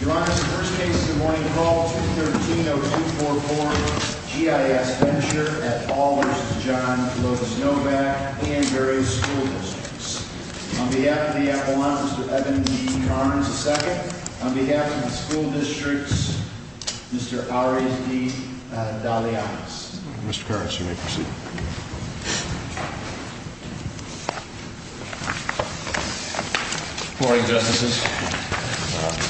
Your Honor, the first case of the morning is called 213-0244 G.I.S. Venture at Paul v. Novak and various school districts. On behalf of the Appellant, Mr. Evan G. Carnes II. On behalf of the school districts, Mr. Ariz D. Daliatis. Mr. Carnes, you may proceed. Good morning, Justices,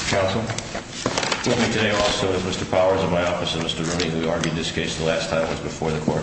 Counsel. With me today also is Mr. Powers in my office and Mr. Rooney, who argued this case the last time it was before the Court.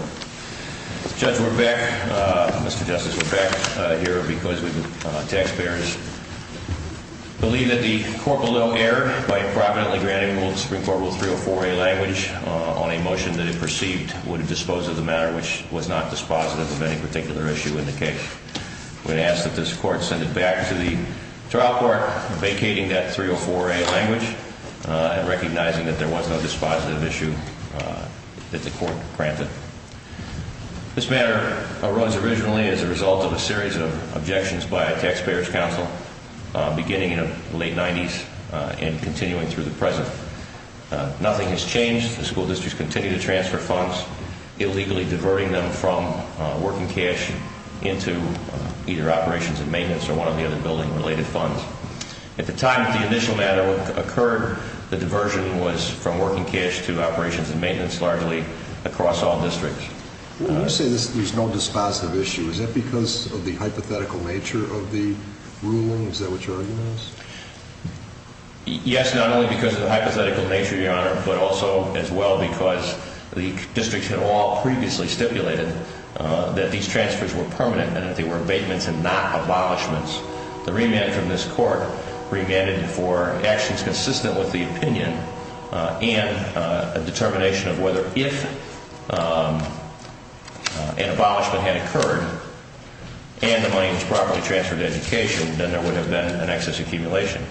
This matter arose originally as a result of a series of objections by a Taxpayers' Council beginning in the late 90s and continuing through the present. Nothing has changed. The school districts continue to transfer funds, illegally diverting them from working cash into either operations and maintenance or one of the other building-related funds. At the time that the initial matter occurred, the diversion was from working cash to operations and maintenance, largely across all districts. When you say there's no dispositive issue, is that because of the hypothetical nature of the ruling? Is that what your argument is? Yes, not only because of the hypothetical nature, Your Honor, but also as well because the districts had all previously stipulated that these transfers were permanent and that they were abatements and not abolishments. The remand from this Court remanded for actions consistent with the opinion and a determination of whether if an abolishment had occurred and the money was properly transferred to education, then there would have been an excess accumulation.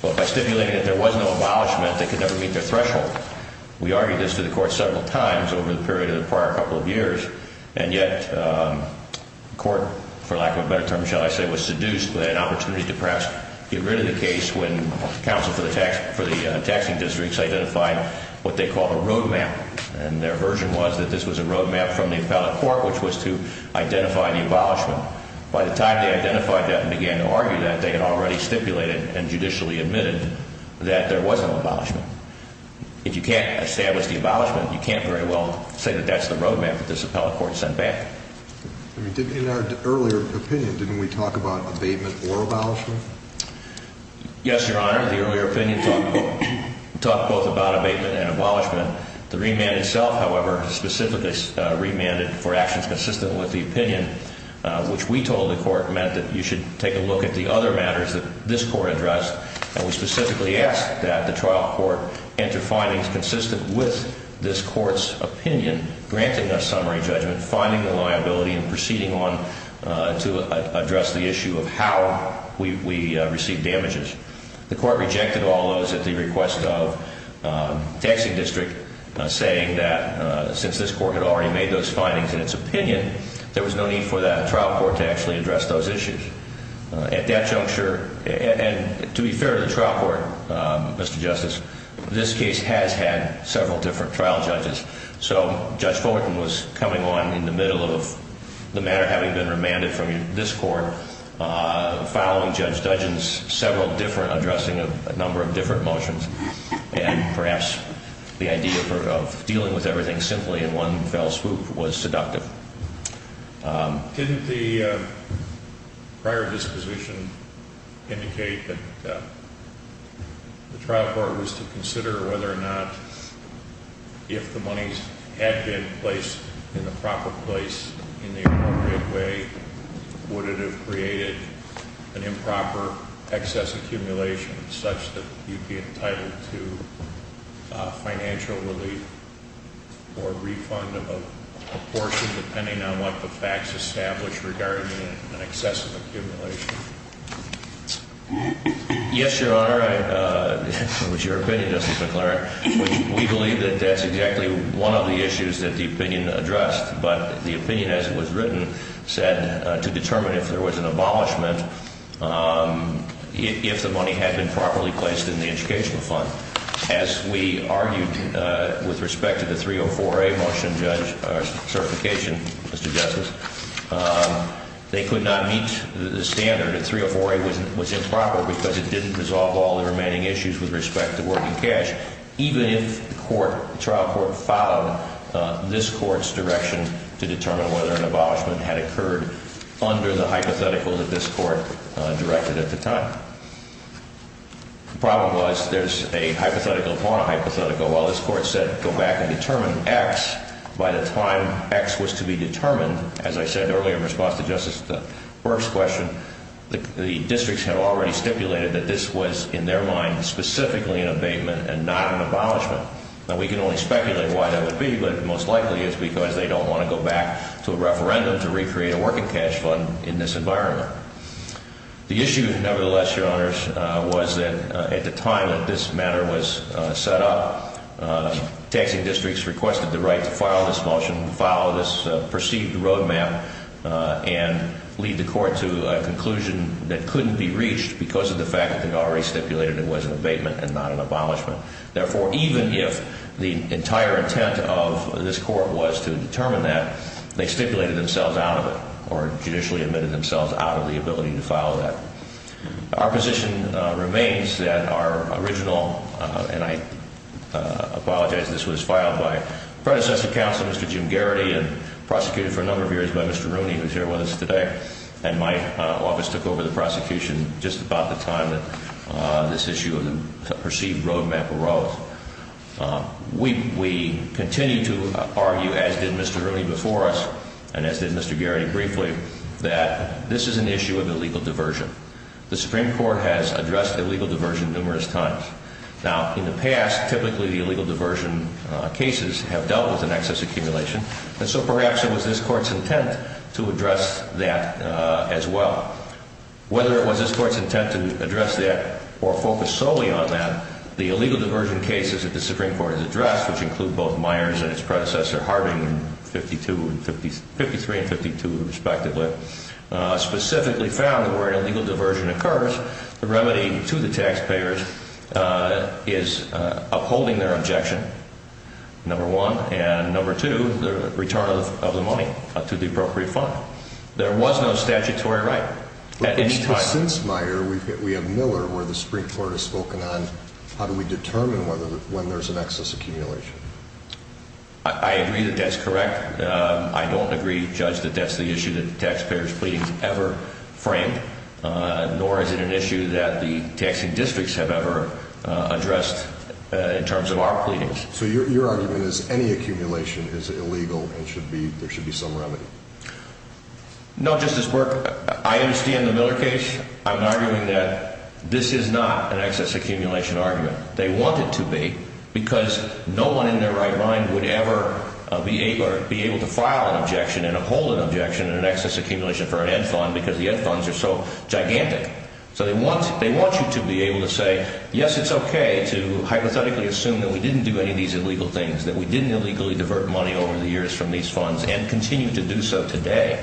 But by stipulating that there was no abolishment, they could never meet their threshold. We argued this to the Court several times over the period of the prior couple of years, and yet the Court, for lack of a better term, shall I say, was seduced by an opportunity to perhaps get rid of the case when the Council for the Taxing Districts identified what they called a road map. And their version was that this was a road map from the appellate court, which was to identify the abolishment. By the time they identified that and began to argue that, they had already stipulated and judicially admitted that there was no abolishment. If you can't establish the abolishment, you can't very well say that that's the road map that this appellate court sent back. In our earlier opinion, didn't we talk about abatement or abolishment? Yes, Your Honor. The earlier opinion talked both about abatement and abolishment. The remand itself, however, specifically remanded for actions consistent with the opinion, which we told the Court meant that you should take a look at the other matters that this Court addressed. And we specifically asked that the trial court enter findings consistent with this Court's opinion, granting a summary judgment, finding the liability, and proceeding on to address the issue of how we received damages. The Court rejected all those at the request of the Taxing District, saying that since this Court had already made those findings in its opinion, there was no need for that trial court to actually address those issues. At that juncture, and to be fair to the trial court, Mr. Justice, this case has had several different trial judges. So Judge Fulton was coming on in the middle of the matter having been remanded from this Court, following Judge Dudgen's several different addressing of a number of different motions. And perhaps the idea of dealing with everything simply in one fell swoop was seductive. Didn't the prior disposition indicate that the trial court was to consider whether or not, if the monies had been placed in the proper place in the appropriate way, would it have created an improper excess accumulation, such that you'd be entitled to financial relief or refund of a portion, depending on what the facts establish regarding an excessive accumulation? Yes, Your Honor. It was your opinion, Justice McClaren. We believe that that's exactly one of the issues that the opinion addressed. But the opinion, as it was written, said to determine if there was an abolishment if the money had been properly placed in the educational fund. As we argued with respect to the 304A motion, Judge, or certification, Mr. Justice, they could not meet the standard that 304A was improper because it didn't resolve all the remaining issues with respect to working cash, even if the trial court followed this Court's direction to determine whether an abolishment had occurred under the hypothetical that this Court directed at the time. The problem was there's a hypothetical upon a hypothetical. While this Court said go back and determine X, by the time X was to be determined, as I said earlier in response to Justice Burke's question, the districts had already stipulated that this was, in their mind, specifically an abatement and not an abolishment. Now, we can only speculate why that would be, but most likely it's because they don't want to go back to a referendum to recreate a working cash fund in this environment. The issue, nevertheless, Your Honors, was that at the time that this matter was set up, taxing districts requested the right to file this motion, follow this perceived roadmap, and lead the Court to a conclusion that couldn't be reached because of the fact that they already stipulated it was an abatement and not an abolishment. Therefore, even if the entire intent of this Court was to determine that, they stipulated themselves out of it or judicially admitted themselves out of the ability to file that. Our position remains that our original, and I apologize, this was filed by predecessor counsel, Mr. Jim Garrity, and prosecuted for a number of years by Mr. Rooney, who's here with us today, and my office took over the prosecution just about the time that this issue of the perceived roadmap arose. So we continue to argue, as did Mr. Rooney before us, and as did Mr. Garrity briefly, that this is an issue of illegal diversion. The Supreme Court has addressed illegal diversion numerous times. Now, in the past, typically the illegal diversion cases have dealt with an excess accumulation, and so perhaps it was this Court's intent to address that as well. Whether it was this Court's intent to address that or focus solely on that, the illegal diversion cases that the Supreme Court has addressed, which include both Myers and its predecessor Harding in 53 and 52 respectively, specifically found that where an illegal diversion occurs, the remedy to the taxpayers is upholding their objection, number one, and number two, the return of the money to the appropriate fund. There was no statutory right at any time. Since Meyer, we have Miller, where the Supreme Court has spoken on how do we determine when there's an excess accumulation. I agree that that's correct. I don't agree, Judge, that that's the issue that the taxpayers' pleadings ever framed, nor is it an issue that the taxing districts have ever addressed in terms of our pleadings. So your argument is any accumulation is illegal and there should be some remedy. No, Justice Burke, I understand the Miller case. I'm arguing that this is not an excess accumulation argument. They want it to be because no one in their right mind would ever be able to file an objection and uphold an objection in an excess accumulation for an Ed Fund because the Ed Funds are so gigantic. So they want you to be able to say, yes, it's okay to hypothetically assume that we didn't do any of these illegal things, that we didn't illegally divert money over the years from these funds and continue to do so today.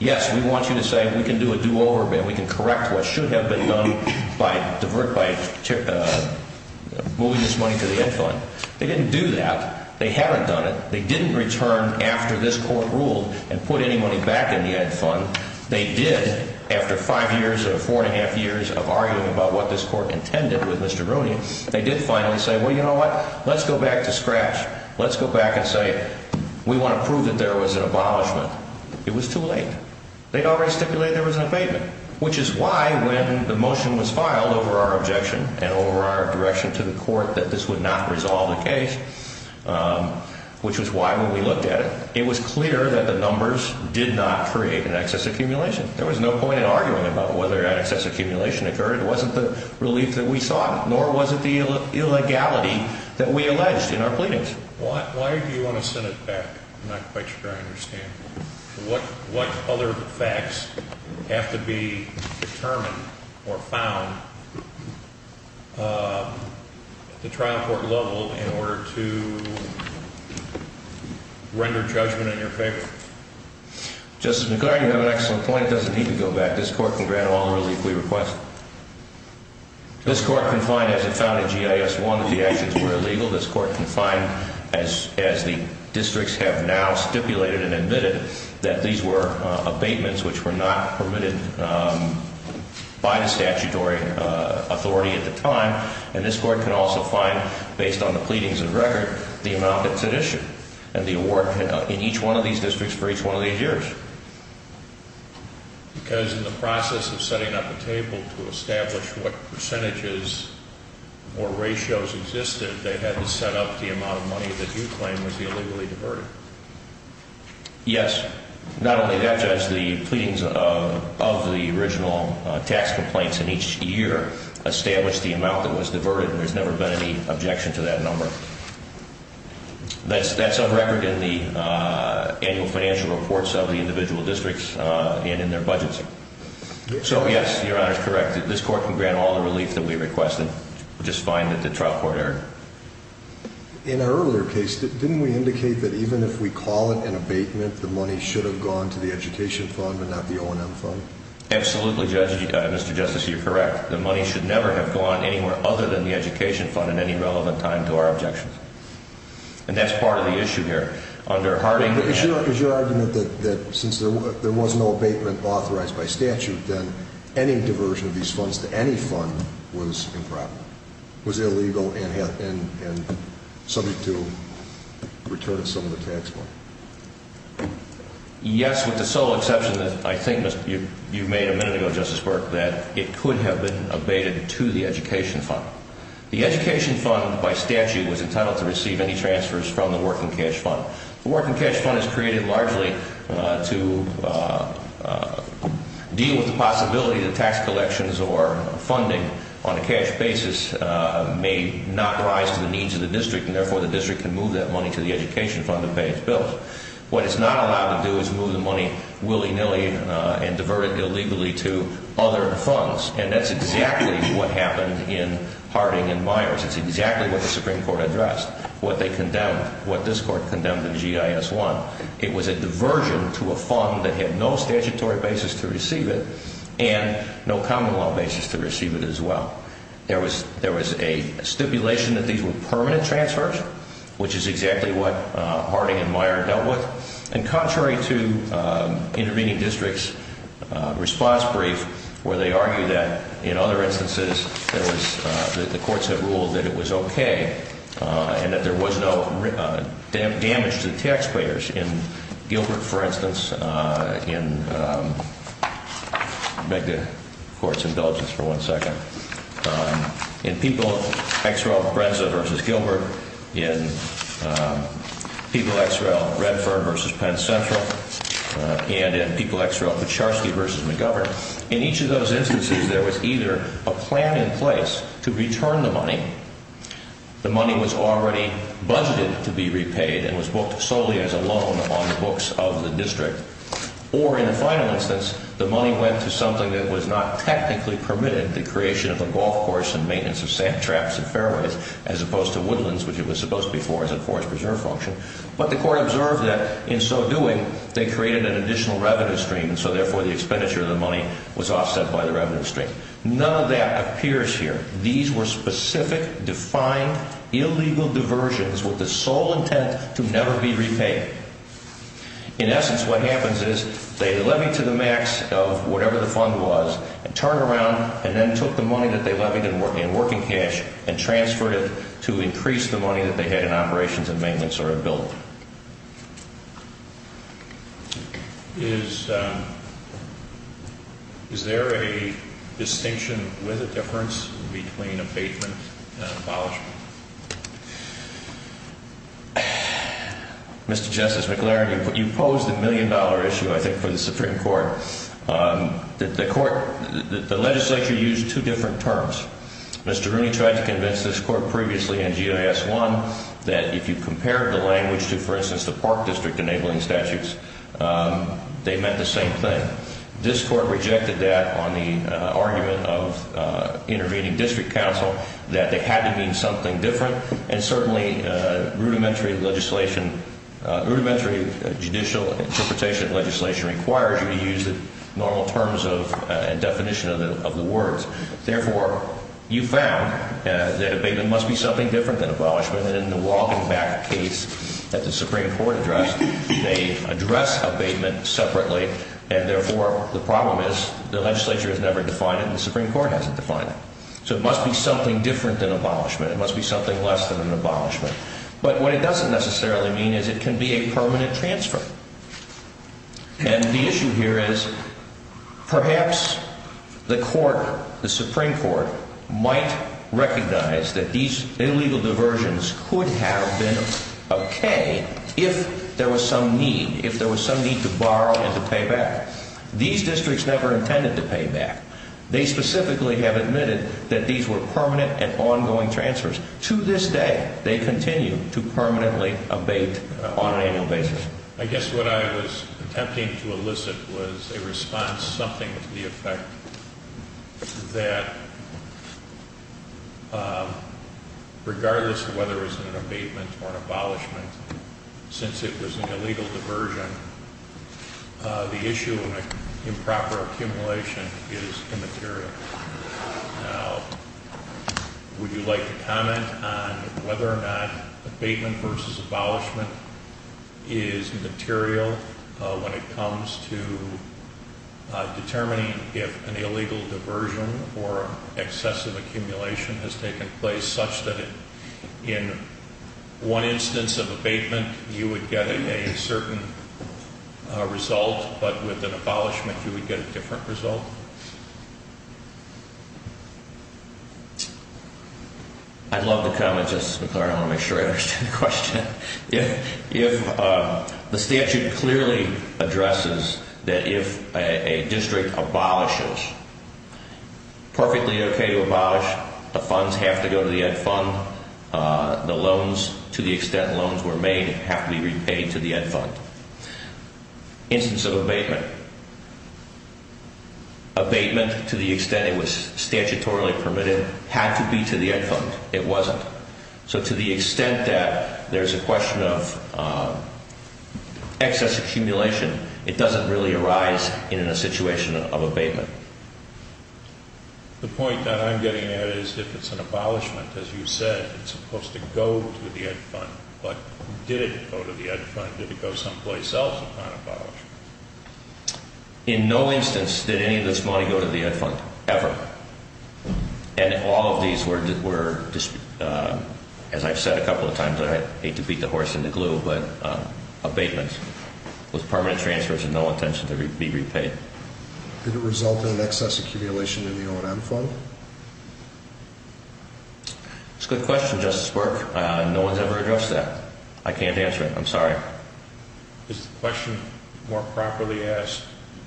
Yes, we want you to say we can do a do-over and we can correct what should have been done by moving this money to the Ed Fund. They didn't do that. They haven't done it. They didn't return after this Court ruled and put any money back in the Ed Fund. They did, after five years or four and a half years of arguing about what this Court intended with Mr. Rooney, they did finally say, well, you know what, let's go back to scratch. Let's go back and say we want to prove that there was an abolishment. It was too late. They'd already stipulated there was an abatement, which is why when the motion was filed over our objection and over our direction to the Court that this would not resolve the case, which was why when we looked at it, it was clear that the numbers did not create an excess accumulation. There was no point in arguing about whether excess accumulation occurred. It wasn't the relief that we sought, nor was it the illegality that we alleged in our pleadings. Why do you want to send it back? I'm not quite sure I understand. What other facts have to be determined or found at the trial court level in order to render judgment in your favor? Justice McGlarney, you have an excellent point. It doesn't need to go back. This Court can grant all the relief we request. This Court can find, as it found in G.I.S. 1, that the actions were illegal. This Court can find, as the districts have now stipulated and admitted, that these were abatements which were not permitted by the statutory authority at the time. And this Court can also find, based on the pleadings and record, the amount that's at issue and the award in each one of these districts for each one of these years. Because in the process of setting up a table to establish what percentages or ratios existed, they had to set up the amount of money that you claim was illegally diverted. Yes. Not only that, Judge, the pleadings of the original tax complaints in each year established the amount that was diverted, and there's never been any objection to that number. That's on record in the annual financial reports of the individual districts and in their budgets. So, yes, Your Honor is correct. This Court can grant all the relief that we requested. We'll just find that the trial court erred. In our earlier case, didn't we indicate that even if we call it an abatement, the money should have gone to the education fund but not the O&M fund? Absolutely, Judge. Mr. Justice, you're correct. The money should never have gone anywhere other than the education fund at any relevant time to our objections. And that's part of the issue here. Under Harding... But is your argument that since there was no abatement authorized by statute, then any diversion of these funds to any fund was improper, was illegal, and subject to return of some of the tax money? Yes, with the sole exception that I think you made a minute ago, Justice Burke, that it could have been abated to the education fund. The education fund, by statute, was entitled to receive any transfers from the working cash fund. The working cash fund is created largely to deal with the possibility that tax collections or funding on a cash basis may not rise to the needs of the district, and therefore the district can move that money to the education fund to pay its bills. What it's not allowed to do is move the money willy-nilly and divert it illegally to other funds, and that's exactly what happened in Harding and Myers. It's exactly what the Supreme Court addressed, what they condemned, what this Court condemned in G.I.S. 1. It was a diversion to a fund that had no statutory basis to receive it and no common law basis to receive it as well. There was a stipulation that these were permanent transfers, which is exactly what Harding and Myers dealt with. And contrary to intervening districts' response brief, where they argue that in other instances the courts had ruled that it was okay and that there was no damage to the taxpayers, in Gilbert, for instance, in People X.R.L. Brenza v. Gilbert, in People X.R.L. Redfern v. Penn Central, and in People X.R.L. Pucharski v. McGovern, in each of those instances there was either a plan in place to return the money, the money was already budgeted to be repaid and was booked solely as a loan on the books of the district, or in a final instance, the money went to something that was not technically permitted, the creation of a golf course and maintenance of sand traps and fairways, as opposed to woodlands, which it was supposed to be for as a forest preserve function. But the court observed that in so doing, they created an additional revenue stream, and so therefore the expenditure of the money was offset by the revenue stream. None of that appears here. These were specific, defined, illegal diversions with the sole intent to never be repaid. In essence, what happens is they levied to the max of whatever the fund was and turned around and then took the money that they levied in working cash and transferred it to increase the money that they had in operations and maintenance or a building. Is there a distinction with a difference between abatement and abolishment? Mr. Justice McLaren, you pose the million-dollar issue, I think, for the Supreme Court. The court, the legislature used two different terms. Mr. Rooney tried to convince this court previously in GIS 1 that if you compared the language to, for instance, the park district enabling statutes, they meant the same thing. This court rejected that on the argument of intervening district counsel, that they had to mean something different, and certainly rudimentary legislation, rudimentary judicial interpretation of legislation requires you to use the normal terms and definition of the words. Therefore, you found that abatement must be something different than abolishment, and in the Walking Back case that the Supreme Court addressed, they addressed abatement separately, and therefore the problem is the legislature has never defined it and the Supreme Court hasn't defined it. So it must be something different than abolishment. It must be something less than an abolishment. But what it doesn't necessarily mean is it can be a permanent transfer. And the issue here is perhaps the court, the Supreme Court, might recognize that these illegal diversions could have been okay if there was some need, if there was some need to borrow and to pay back. These districts never intended to pay back. They specifically have admitted that these were permanent and ongoing transfers. To this day, they continue to permanently abate on an annual basis. I guess what I was attempting to elicit was a response, something to the effect that regardless of whether it was an abatement or an abolishment, since it was an illegal diversion, the issue of improper accumulation is immaterial. Now, would you like to comment on whether or not abatement versus abolishment is material when it comes to determining if an illegal diversion or excessive accumulation has taken place such that in one instance of abatement, you would get a certain result, but with an abolishment, you would get a different result? I'd love to comment, Justice McClaren. I want to make sure I understand the question. If the statute clearly addresses that if a district abolishes, perfectly okay to abolish. The funds have to go to the Ed Fund. The loans, to the extent loans were made, have to be repaid to the Ed Fund. Instance of abatement. Abatement, to the extent it was statutorily permitted, had to be to the Ed Fund. It wasn't. So to the extent that there's a question of excess accumulation, it doesn't really arise in a situation of abatement. The point that I'm getting at is if it's an abolishment, as you said, it's supposed to go to the Ed Fund. But did it go to the Ed Fund? Did it go someplace else upon abolishment? In no instance did any of this money go to the Ed Fund, ever. And all of these were, as I've said a couple of times, I hate to beat the horse in the glue, but abatement, was permanent transfers with no intention to be repaid. Did it result in an excess accumulation in the O&M Fund? That's a good question, Justice Burke. No one's ever addressed that. I can't answer it. I'm sorry. Is the question more properly asked,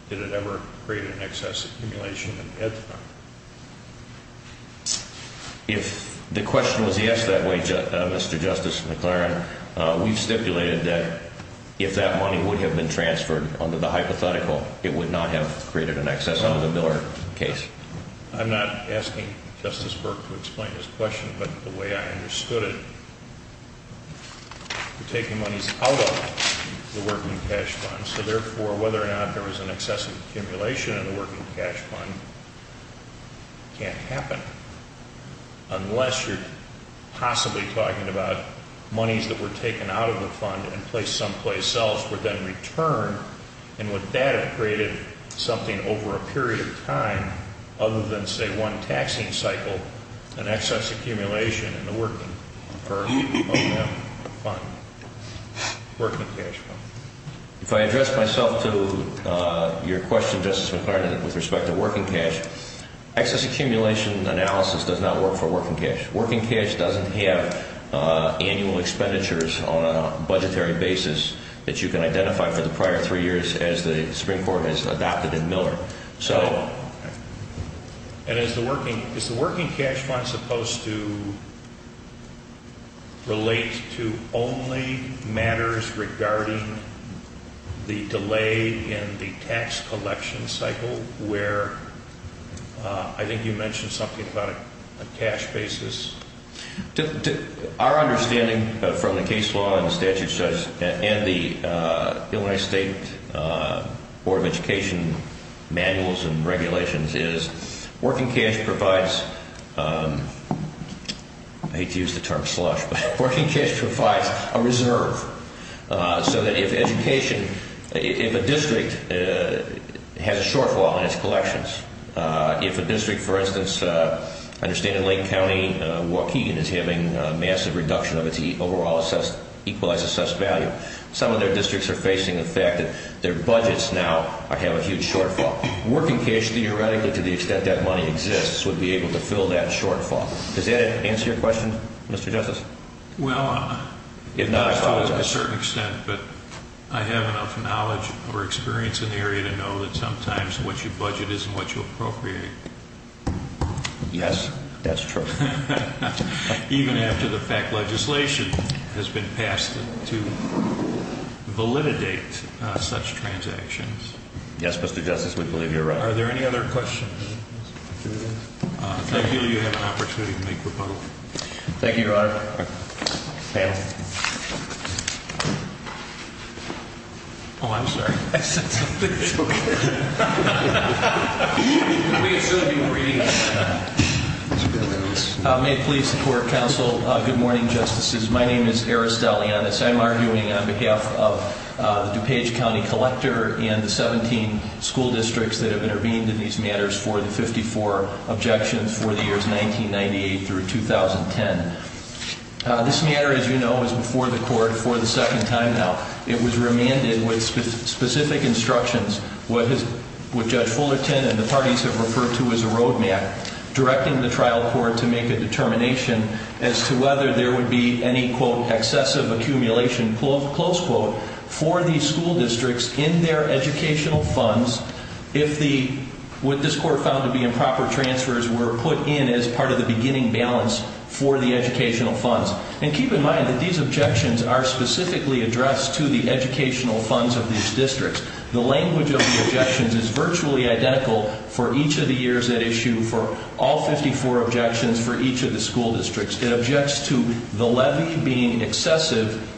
did it ever create an excess accumulation in the Ed Fund? If the question was asked that way, Mr. Justice McLaren, we've stipulated that if that money would have been transferred under the hypothetical, it would not have created an excess under the Miller case. I'm not asking Justice Burke to explain this question, but the way I understood it, you're taking monies out of the Working Cash Fund, so therefore whether or not there was an excess accumulation in the Working Cash Fund can't happen. Unless you're possibly talking about monies that were taken out of the fund and placed someplace else were then returned, and would that have created something over a period of time other than, say, one taxing cycle, an excess accumulation in the Working Cash Fund? If I address myself to your question, Justice McLaren, with respect to Working Cash, excess accumulation analysis does not work for Working Cash. Working Cash doesn't have annual expenditures on a budgetary basis that you can identify for the prior three years as the Supreme Court has adopted in Miller. And is the Working Cash Fund supposed to relate to only matters regarding the delay in the tax collection cycle, where I think you mentioned something about a cash basis? Our understanding from the case law and the statute says, and the Illinois State Board of Education manuals and regulations is, Working Cash provides, I hate to use the term slush, but Working Cash provides a reserve, so that if a district has a shortfall in its collections, if a district, for instance, I understand in Lake County, Waukegan is having a massive reduction of its overall equalized assessed value, some of their districts are facing the fact that their budgets now have a huge shortfall. Working Cash, theoretically, to the extent that money exists, would be able to fill that shortfall. Does that answer your question, Mr. Justice? Well, not to a certain extent, but I have enough knowledge or experience in the area to know that sometimes what you budget isn't what you appropriate. Yes, that's true. Even after the fact legislation has been passed to validate such transactions. Yes, Mr. Justice, we believe you're right. Are there any other questions? If I do, you have an opportunity to make rebuttal. Thank you, Your Honor. Panel. Oh, I'm sorry. I said something. It's okay. We should be reading this. May it please the Court of Counsel, good morning, Justices. My name is Eris Deleonis. I'm arguing on behalf of the DuPage County Collector and the 17 school districts that have intervened in these matters for the 54 objections for the years 1998 through 2010. This matter, as you know, is before the Court for the second time now. It was remanded with specific instructions, what Judge Fullerton and the parties have referred to as a road map, directing the trial court to make a determination as to whether there would be any, quote, were put in as part of the beginning balance for the educational funds. And keep in mind that these objections are specifically addressed to the educational funds of these districts. The language of the objections is virtually identical for each of the years at issue, for all 54 objections for each of the school districts. It objects to the levy being excessive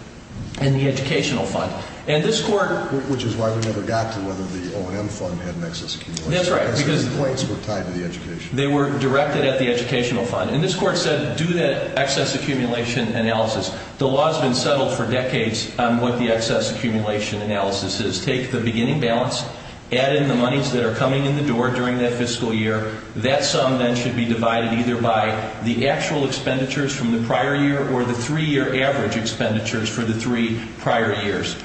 and the educational fund. And this Court... Which is why we never got to whether the O&M fund had an excess accumulation. That's right. Because the complaints were tied to the educational fund. They were directed at the educational fund. And this Court said, do that excess accumulation analysis. The law has been settled for decades on what the excess accumulation analysis is. Take the beginning balance, add in the monies that are coming in the door during that fiscal year. That sum then should be divided either by the actual expenditures from the prior year or the three-year average expenditures for the three prior years.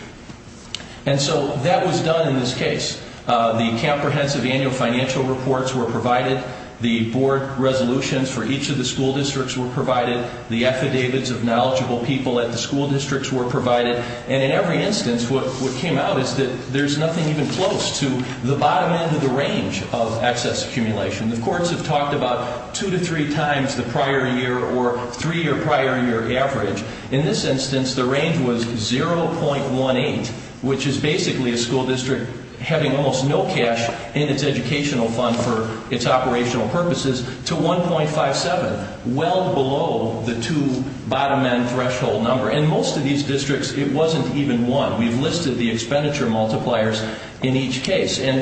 And so that was done in this case. The comprehensive annual financial reports were provided. The board resolutions for each of the school districts were provided. The affidavits of knowledgeable people at the school districts were provided. And in every instance, what came out is that there's nothing even close to the bottom end of the range of excess accumulation. The courts have talked about two to three times the prior year or three-year prior year average. In this instance, the range was 0.18, which is basically a school district having almost no cash in its educational fund for its operational purposes, to 1.57, well below the two bottom end threshold number. In most of these districts, it wasn't even one. We've listed the expenditure multipliers in each case. And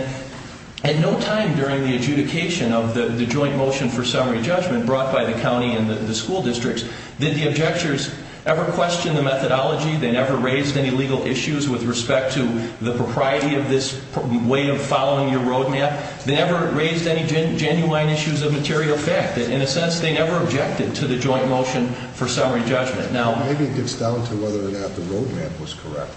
at no time during the adjudication of the joint motion for summary judgment brought by the county and the school districts did the objectors ever question the methodology. They never raised any legal issues with respect to the propriety of this way of following your roadmap. They never raised any genuine issues of material fact. In a sense, they never objected to the joint motion for summary judgment. Now, maybe it gets down to whether or not the roadmap was correct.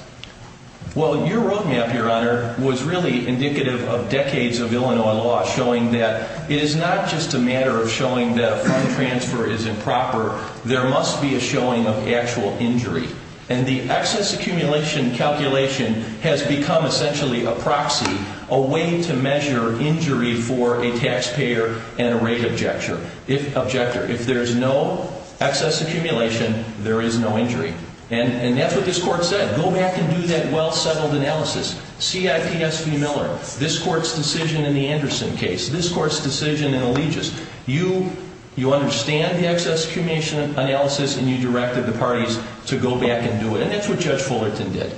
Well, your roadmap, Your Honor, was really indicative of decades of Illinois law showing that it is not just a matter of showing that a fund transfer is improper. There must be a showing of actual injury. And the excess accumulation calculation has become essentially a proxy, a way to measure injury for a taxpayer and a rate objector. If there's no excess accumulation, there is no injury. And that's what this Court said. Go back and do that well-settled analysis. CIPS v. Miller, this Court's decision in the Anderson case, this Court's decision in Allegis, you understand the excess accumulation analysis and you directed the parties to go back and do it. And that's what Judge Fullerton did.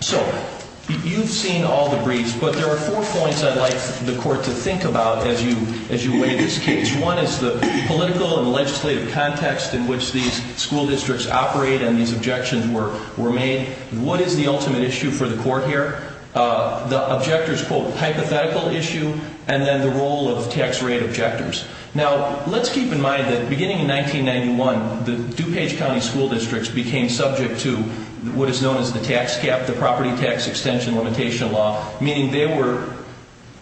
So you've seen all the briefs, but there are four points I'd like the Court to think about as you weigh this case. One is the political and legislative context in which these school districts operate and these objections were made. What is the ultimate issue for the Court here? The objector's, quote, hypothetical issue and then the role of tax rate objectors. Now, let's keep in mind that beginning in 1991, the DuPage County school districts became subject to what is known as the tax cap, the property tax extension limitation law, meaning they were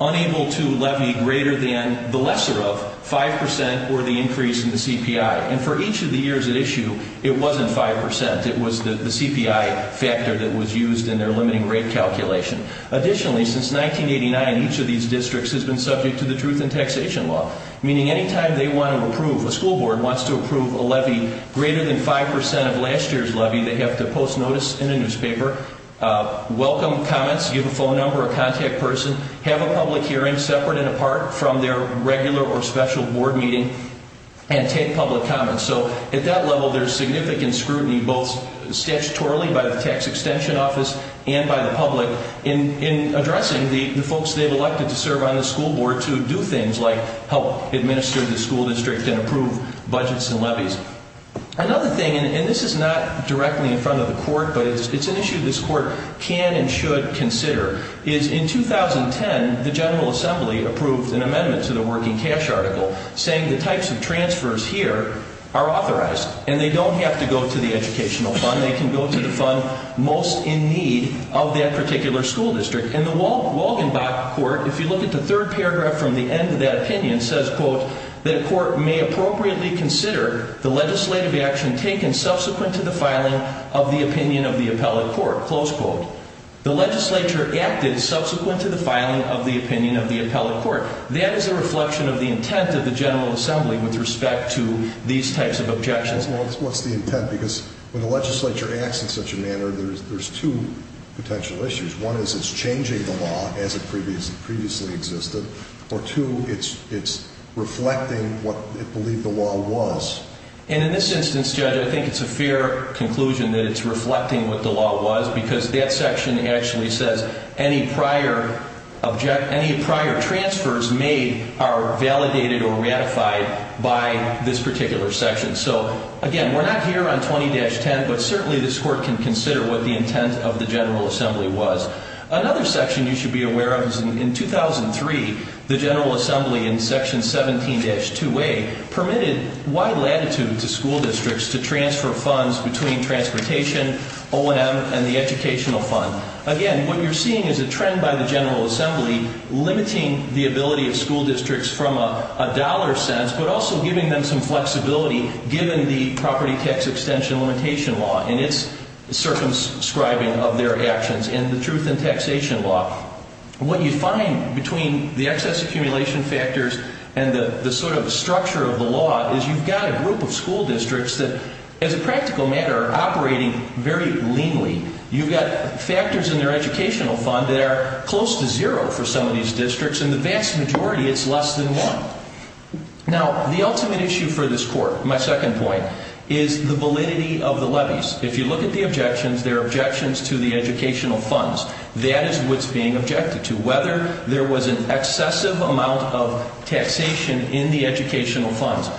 unable to levy greater than the lesser of 5% or the increase in the CPI. And for each of the years at issue, it wasn't 5%. It was the CPI factor that was used in their limiting rate calculation. Additionally, since 1989, each of these districts has been subject to the truth in taxation law, meaning any time they want to approve, a school board wants to approve a levy greater than 5% of last year's levy, they have to post notice in a newspaper, welcome comments, give a phone number, a contact person, have a public hearing separate and apart from their regular or special board meeting, and take public comments. So at that level, there's significant scrutiny both statutorily by the tax extension office and by the public in addressing the folks they've elected to serve on the school board to do things like help administer the school district and approve budgets and levies. Another thing, and this is not directly in front of the Court, but it's an issue this Court can and should consider, is in 2010, the General Assembly approved an amendment to the Working Cash Article saying the types of transfers here are authorized and they don't have to go to the educational fund. They can go to the fund most in need of that particular school district. And the Wogenbach Court, if you look at the third paragraph from the end of that opinion, says, quote, that a court may appropriately consider the legislative action taken subsequent to the filing of the opinion of the appellate court, close quote. The legislature acted subsequent to the filing of the opinion of the appellate court. That is a reflection of the intent of the General Assembly with respect to these types of objections. Well, what's the intent? Because when the legislature acts in such a manner, there's two potential issues. One is it's changing the law as it previously existed, or two, it's reflecting what it believed the law was. And in this instance, Judge, I think it's a fair conclusion that it's reflecting what the law was because that section actually says any prior transfers made are validated or ratified by this particular section. So again, we're not here on 20-10, but certainly this court can consider what the intent of the General Assembly was. Another section you should be aware of is in 2003, the General Assembly in Section 17-2A permitted wide latitude to school districts to transfer funds between transportation, OM, and the educational fund. Again, what you're seeing is a trend by the General Assembly limiting the ability of school districts from a dollar sense but also giving them some flexibility given the property tax extension limitation law and its circumscribing of their actions and the truth in taxation law. What you find between the excess accumulation factors and the sort of structure of the law is you've got a group of school districts that, as a practical matter, are operating very leanly. You've got factors in their educational fund that are close to zero for some of these districts, and the vast majority, it's less than one. Now, the ultimate issue for this court, my second point, is the validity of the levies. If you look at the objections, there are objections to the educational funds. That is what's being objected to, whether there was an excessive amount of taxation in the educational funds.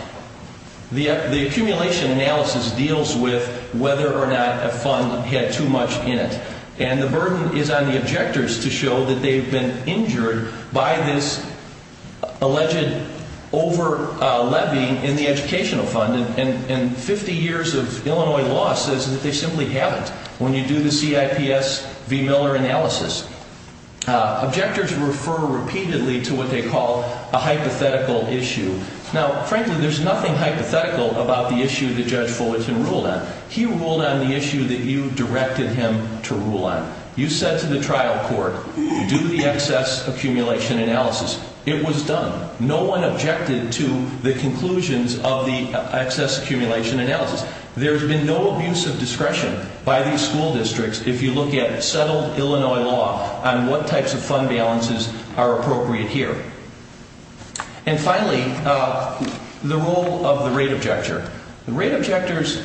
The accumulation analysis deals with whether or not a fund had too much in it, and the burden is on the objectors to show that they've been injured by this alleged over-levy in the educational fund. And 50 years of Illinois law says that they simply haven't when you do the CIPS v. Miller analysis. Objectors refer repeatedly to what they call a hypothetical issue. Now, frankly, there's nothing hypothetical about the issue that Judge Fullerton ruled on. He ruled on the issue that you directed him to rule on. You said to the trial court, do the excess accumulation analysis. It was done. No one objected to the conclusions of the excess accumulation analysis. There's been no abuse of discretion by these school districts if you look at settled Illinois law on what types of fund balances are appropriate here. And finally, the role of the rate objector. The rate objectors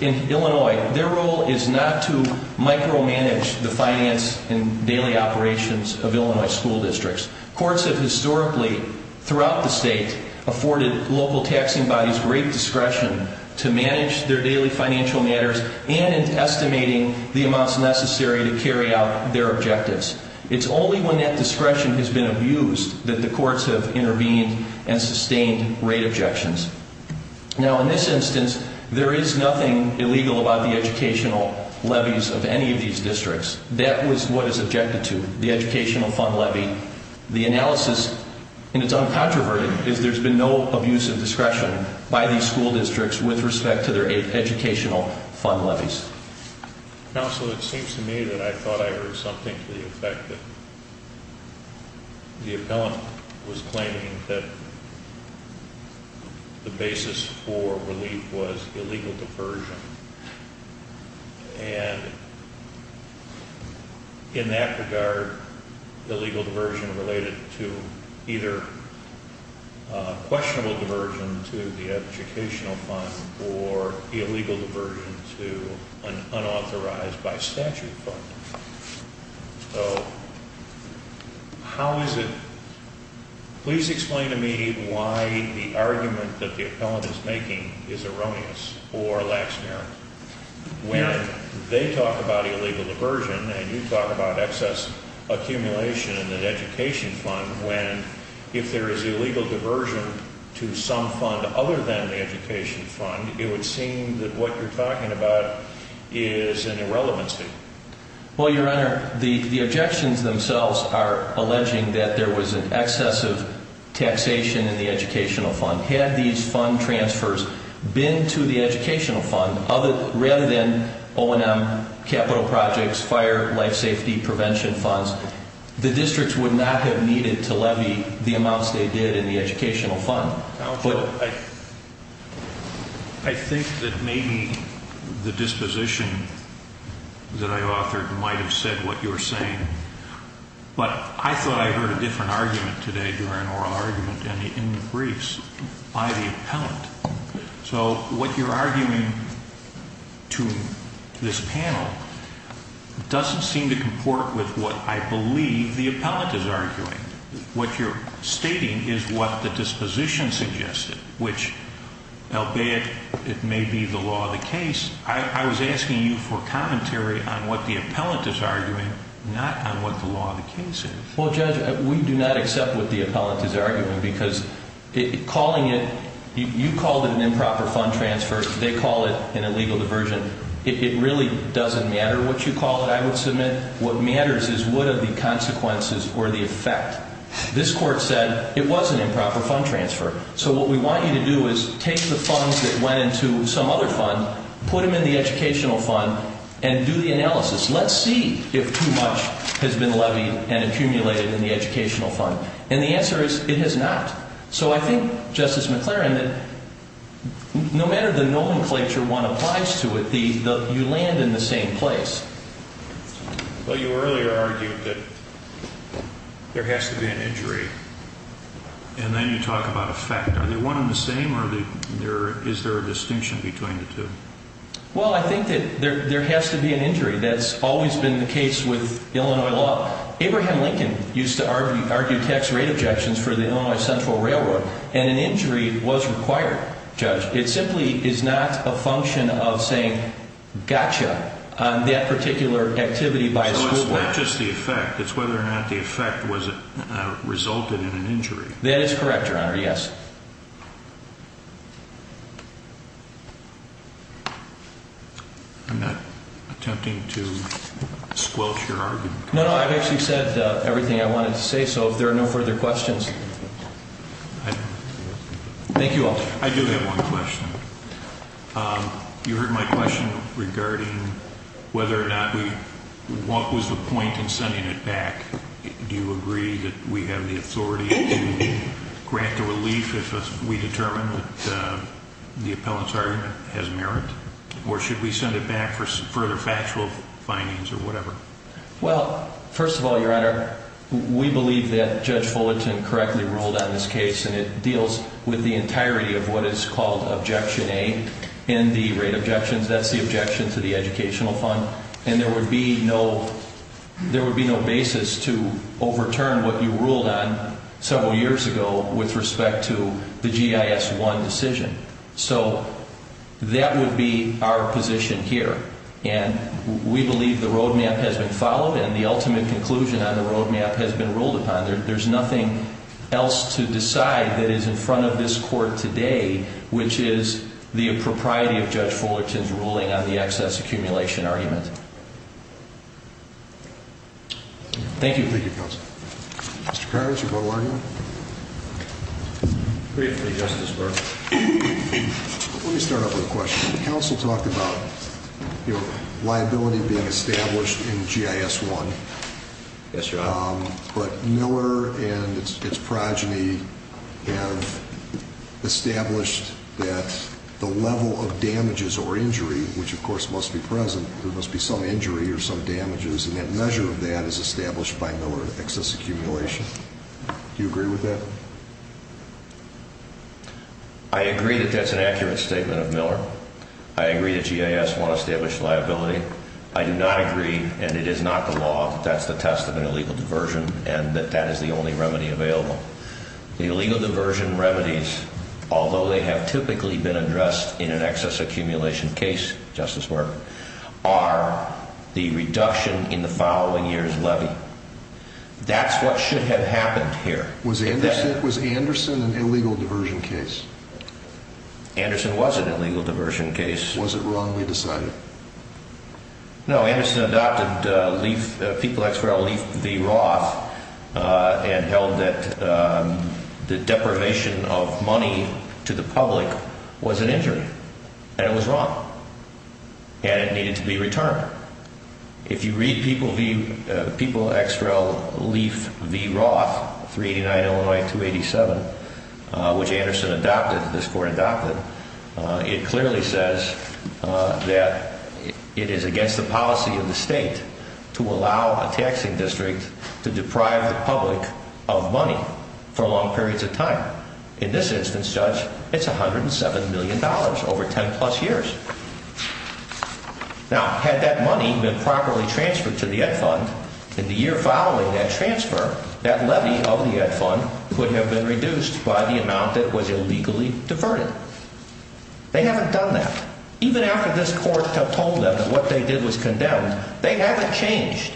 in Illinois, their role is not to micromanage the finance and daily operations of Illinois school districts. Courts have historically throughout the state afforded local taxing bodies great discretion to manage their daily financial matters and in estimating the amounts necessary to carry out their objectives. It's only when that discretion has been abused that the courts have intervened and sustained rate objections. Now, in this instance, there is nothing illegal about the educational levies of any of these districts. That was what is objected to, the educational fund levy. The analysis, and it's uncontroverted, is there's been no abuse of discretion by these school districts with respect to their educational fund levies. Counsel, it seems to me that I thought I heard something to the effect that the appellant was claiming that the basis for relief was illegal diversion. And in that regard, illegal diversion related to either questionable diversion to the educational fund or illegal diversion to an unauthorized by statute fund. So, how is it, please explain to me why the argument that the appellant is making is erroneous or lacks merit. When they talk about illegal diversion and you talk about excess accumulation in an education fund, when if there is illegal diversion to some fund other than the education fund, it would seem that what you're talking about is an irrelevancy. Well, Your Honor, the objections themselves are alleging that there was an excess of taxation in the educational fund. Had these fund transfers been to the educational fund rather than O&M, capital projects, fire, life safety, prevention funds, the districts would not have needed to levy the amounts they did in the educational fund. Counsel, I think that maybe the disposition that I authored might have said what you're saying. But I thought I heard a different argument today during oral argument in the briefs by the appellant. So what you're arguing to this panel doesn't seem to comport with what I believe the appellant is arguing. What you're stating is what the disposition suggested, which albeit it may be the law of the case, I was asking you for commentary on what the appellant is arguing, not on what the law of the case is. Well, Judge, we do not accept what the appellant is arguing because calling it, you called it an improper fund transfer. They call it an illegal diversion. It really doesn't matter what you call it, I would submit. What matters is what are the consequences or the effect. This Court said it was an improper fund transfer. So what we want you to do is take the funds that went into some other fund, put them in the educational fund, and do the analysis. Let's see if too much has been levied and accumulated in the educational fund. And the answer is it has not. So I think, Justice McLaren, that no matter the nomenclature one applies to it, you land in the same place. Well, you earlier argued that there has to be an injury, and then you talk about effect. Are they one and the same, or is there a distinction between the two? Well, I think that there has to be an injury. That's always been the case with Illinois law. Abraham Lincoln used to argue tax rate objections for the Illinois Central Railroad, and an injury was required, Judge. It simply is not a function of saying, gotcha, on that particular activity by a school board. So it's not just the effect. It's whether or not the effect resulted in an injury. That is correct, Your Honor, yes. I'm not attempting to squelch your argument. No, no, I've actually said everything I wanted to say, so if there are no further questions. Thank you all. I do have one question. You heard my question regarding whether or not we – what was the point in sending it back? Do you agree that we have the authority to grant the relief if we determine that the appellant's argument has merit? Or should we send it back for further factual findings or whatever? Well, first of all, Your Honor, we believe that Judge Fullerton correctly ruled on this case, and it deals with the entirety of what is called Objection A in the rate objections. That's the objection to the educational fund. And there would be no basis to overturn what you ruled on several years ago with respect to the GIS-1 decision. So that would be our position here. And we believe the roadmap has been followed and the ultimate conclusion on the roadmap has been ruled upon. There's nothing else to decide that is in front of this Court today, which is the propriety of Judge Fullerton's ruling on the excess accumulation argument. Thank you. Thank you, Counsel. Mr. Karras, your final argument? Let me start off with a question. Counsel talked about liability being established in GIS-1. Yes, Your Honor. But Miller and its progeny have established that the level of damages or injury, which of course must be present, there must be some injury or some damages, and that measure of that is established by Miller excess accumulation. Do you agree with that? I agree that that's an accurate statement of Miller. I agree that GIS-1 established liability. I do not agree, and it is not the law, that that's the test of an illegal diversion and that that is the only remedy available. The illegal diversion remedies, although they have typically been addressed in an excess accumulation case, Justice Morgan, are the reduction in the following year's levy. That's what should have happened here. Was Anderson an illegal diversion case? Anderson was an illegal diversion case. Was it wrongly decided? No, Anderson adopted People X. Rel. Leaf v. Roth and held that the deprivation of money to the public was an injury, and it was wrong, and it needed to be returned. If you read People X. Rel. Leaf v. Roth, 389 Illinois 287, which Anderson adopted, this Court adopted, it clearly says that it is against the policy of the state to allow a taxing district to deprive the public of money for long periods of time. In this instance, Judge, it's $107 million over 10-plus years. Now, had that money been properly transferred to the Ed Fund, in the year following that transfer, that levy of the Ed Fund could have been reduced by the amount that was illegally diverted. They haven't done that. Even after this Court told them that what they did was condemned, they haven't changed.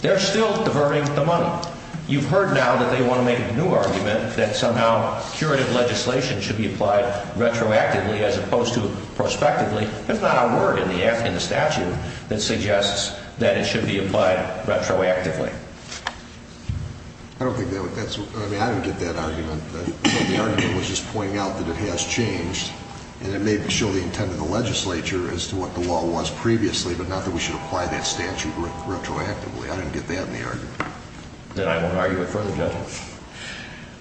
They're still diverting the money. You've heard now that they want to make a new argument that somehow curative legislation should be applied retroactively as opposed to prospectively. That's not our word in the statute that suggests that it should be applied retroactively. I don't think that's what—I mean, I don't get that argument. The argument was just pointing out that it has changed, and it may show the intent of the legislature as to what the law was previously, but not that we should apply that statute retroactively. I don't get that in the argument. Then I won't argue it further, Judge.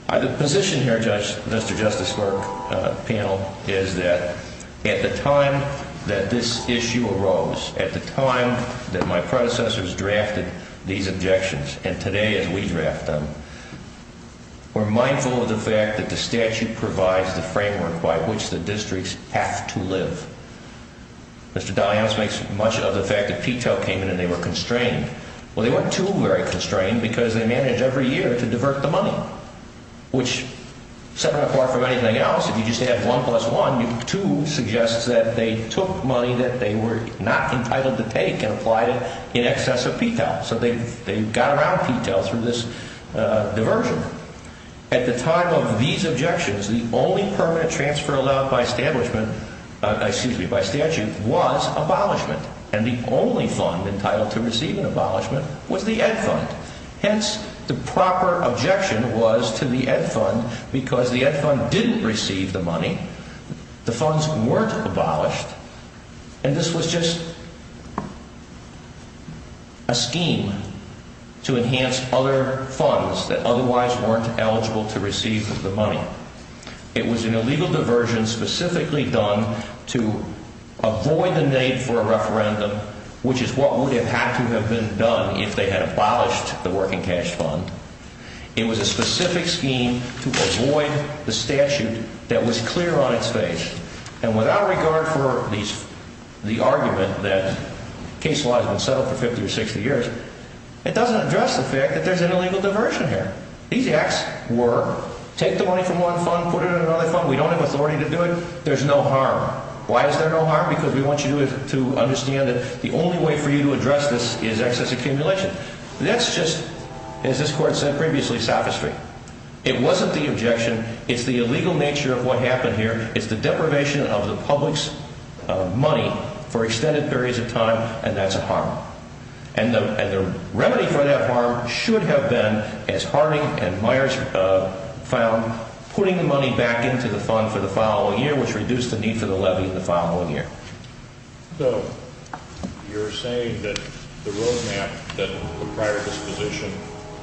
The position here, Mr. Justice Lerk, panel, is that at the time that this issue arose, at the time that my predecessors drafted these objections, and today as we draft them, we're mindful of the fact that the statute provides the framework by which the districts have to live. Mr. Dalyos makes much of the fact that Peto came in and they were constrained. Well, they weren't too very constrained because they managed every year to divert the money, which set them apart from anything else. If you just add 1 plus 1, 2 suggests that they took money that they were not entitled to take and applied it in excess of Peto. So they got around Peto through this diversion. At the time of these objections, the only permanent transfer allowed by statute was abolishment, and the only fund entitled to receive an abolishment was the Ed Fund. Hence, the proper objection was to the Ed Fund because the Ed Fund didn't receive the money, the funds weren't abolished, and this was just a scheme to enhance other funds that otherwise weren't eligible to receive the money. It was an illegal diversion specifically done to avoid the need for a referendum, which is what would have had to have been done if they had abolished the Working Cash Fund. It was a specific scheme to avoid the statute that was clear on its face, and without regard for the argument that case law has been settled for 50 or 60 years, it doesn't address the fact that there's an illegal diversion here. These acts were, take the money from one fund, put it in another fund, we don't have authority to do it, there's no harm. Why is there no harm? Because we want you to understand that the only way for you to address this is excess accumulation. That's just, as this Court said previously, sophistry. It wasn't the objection. It's the illegal nature of what happened here. It's the deprivation of the public's money for extended periods of time, and that's a harm. And the remedy for that harm should have been, as Harding and Myers found, putting the money back into the fund for the following year, which reduced the need for the levy the following year. So you're saying that the roadmap that the prior disposition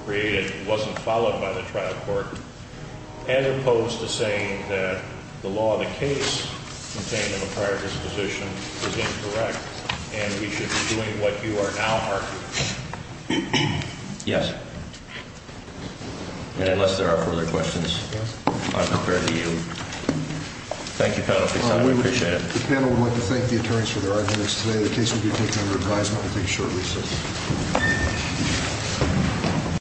created wasn't followed by the trial court, as opposed to saying that the law of the case contained in the prior disposition was incorrect and we should be doing what you are now arguing? Yes. And unless there are further questions, I'm prepared to yield. Thank you, panel, for your time. We appreciate it. The panel would like to thank the attorneys for their arguments today. The case will be taken under advisement, I think, shortly.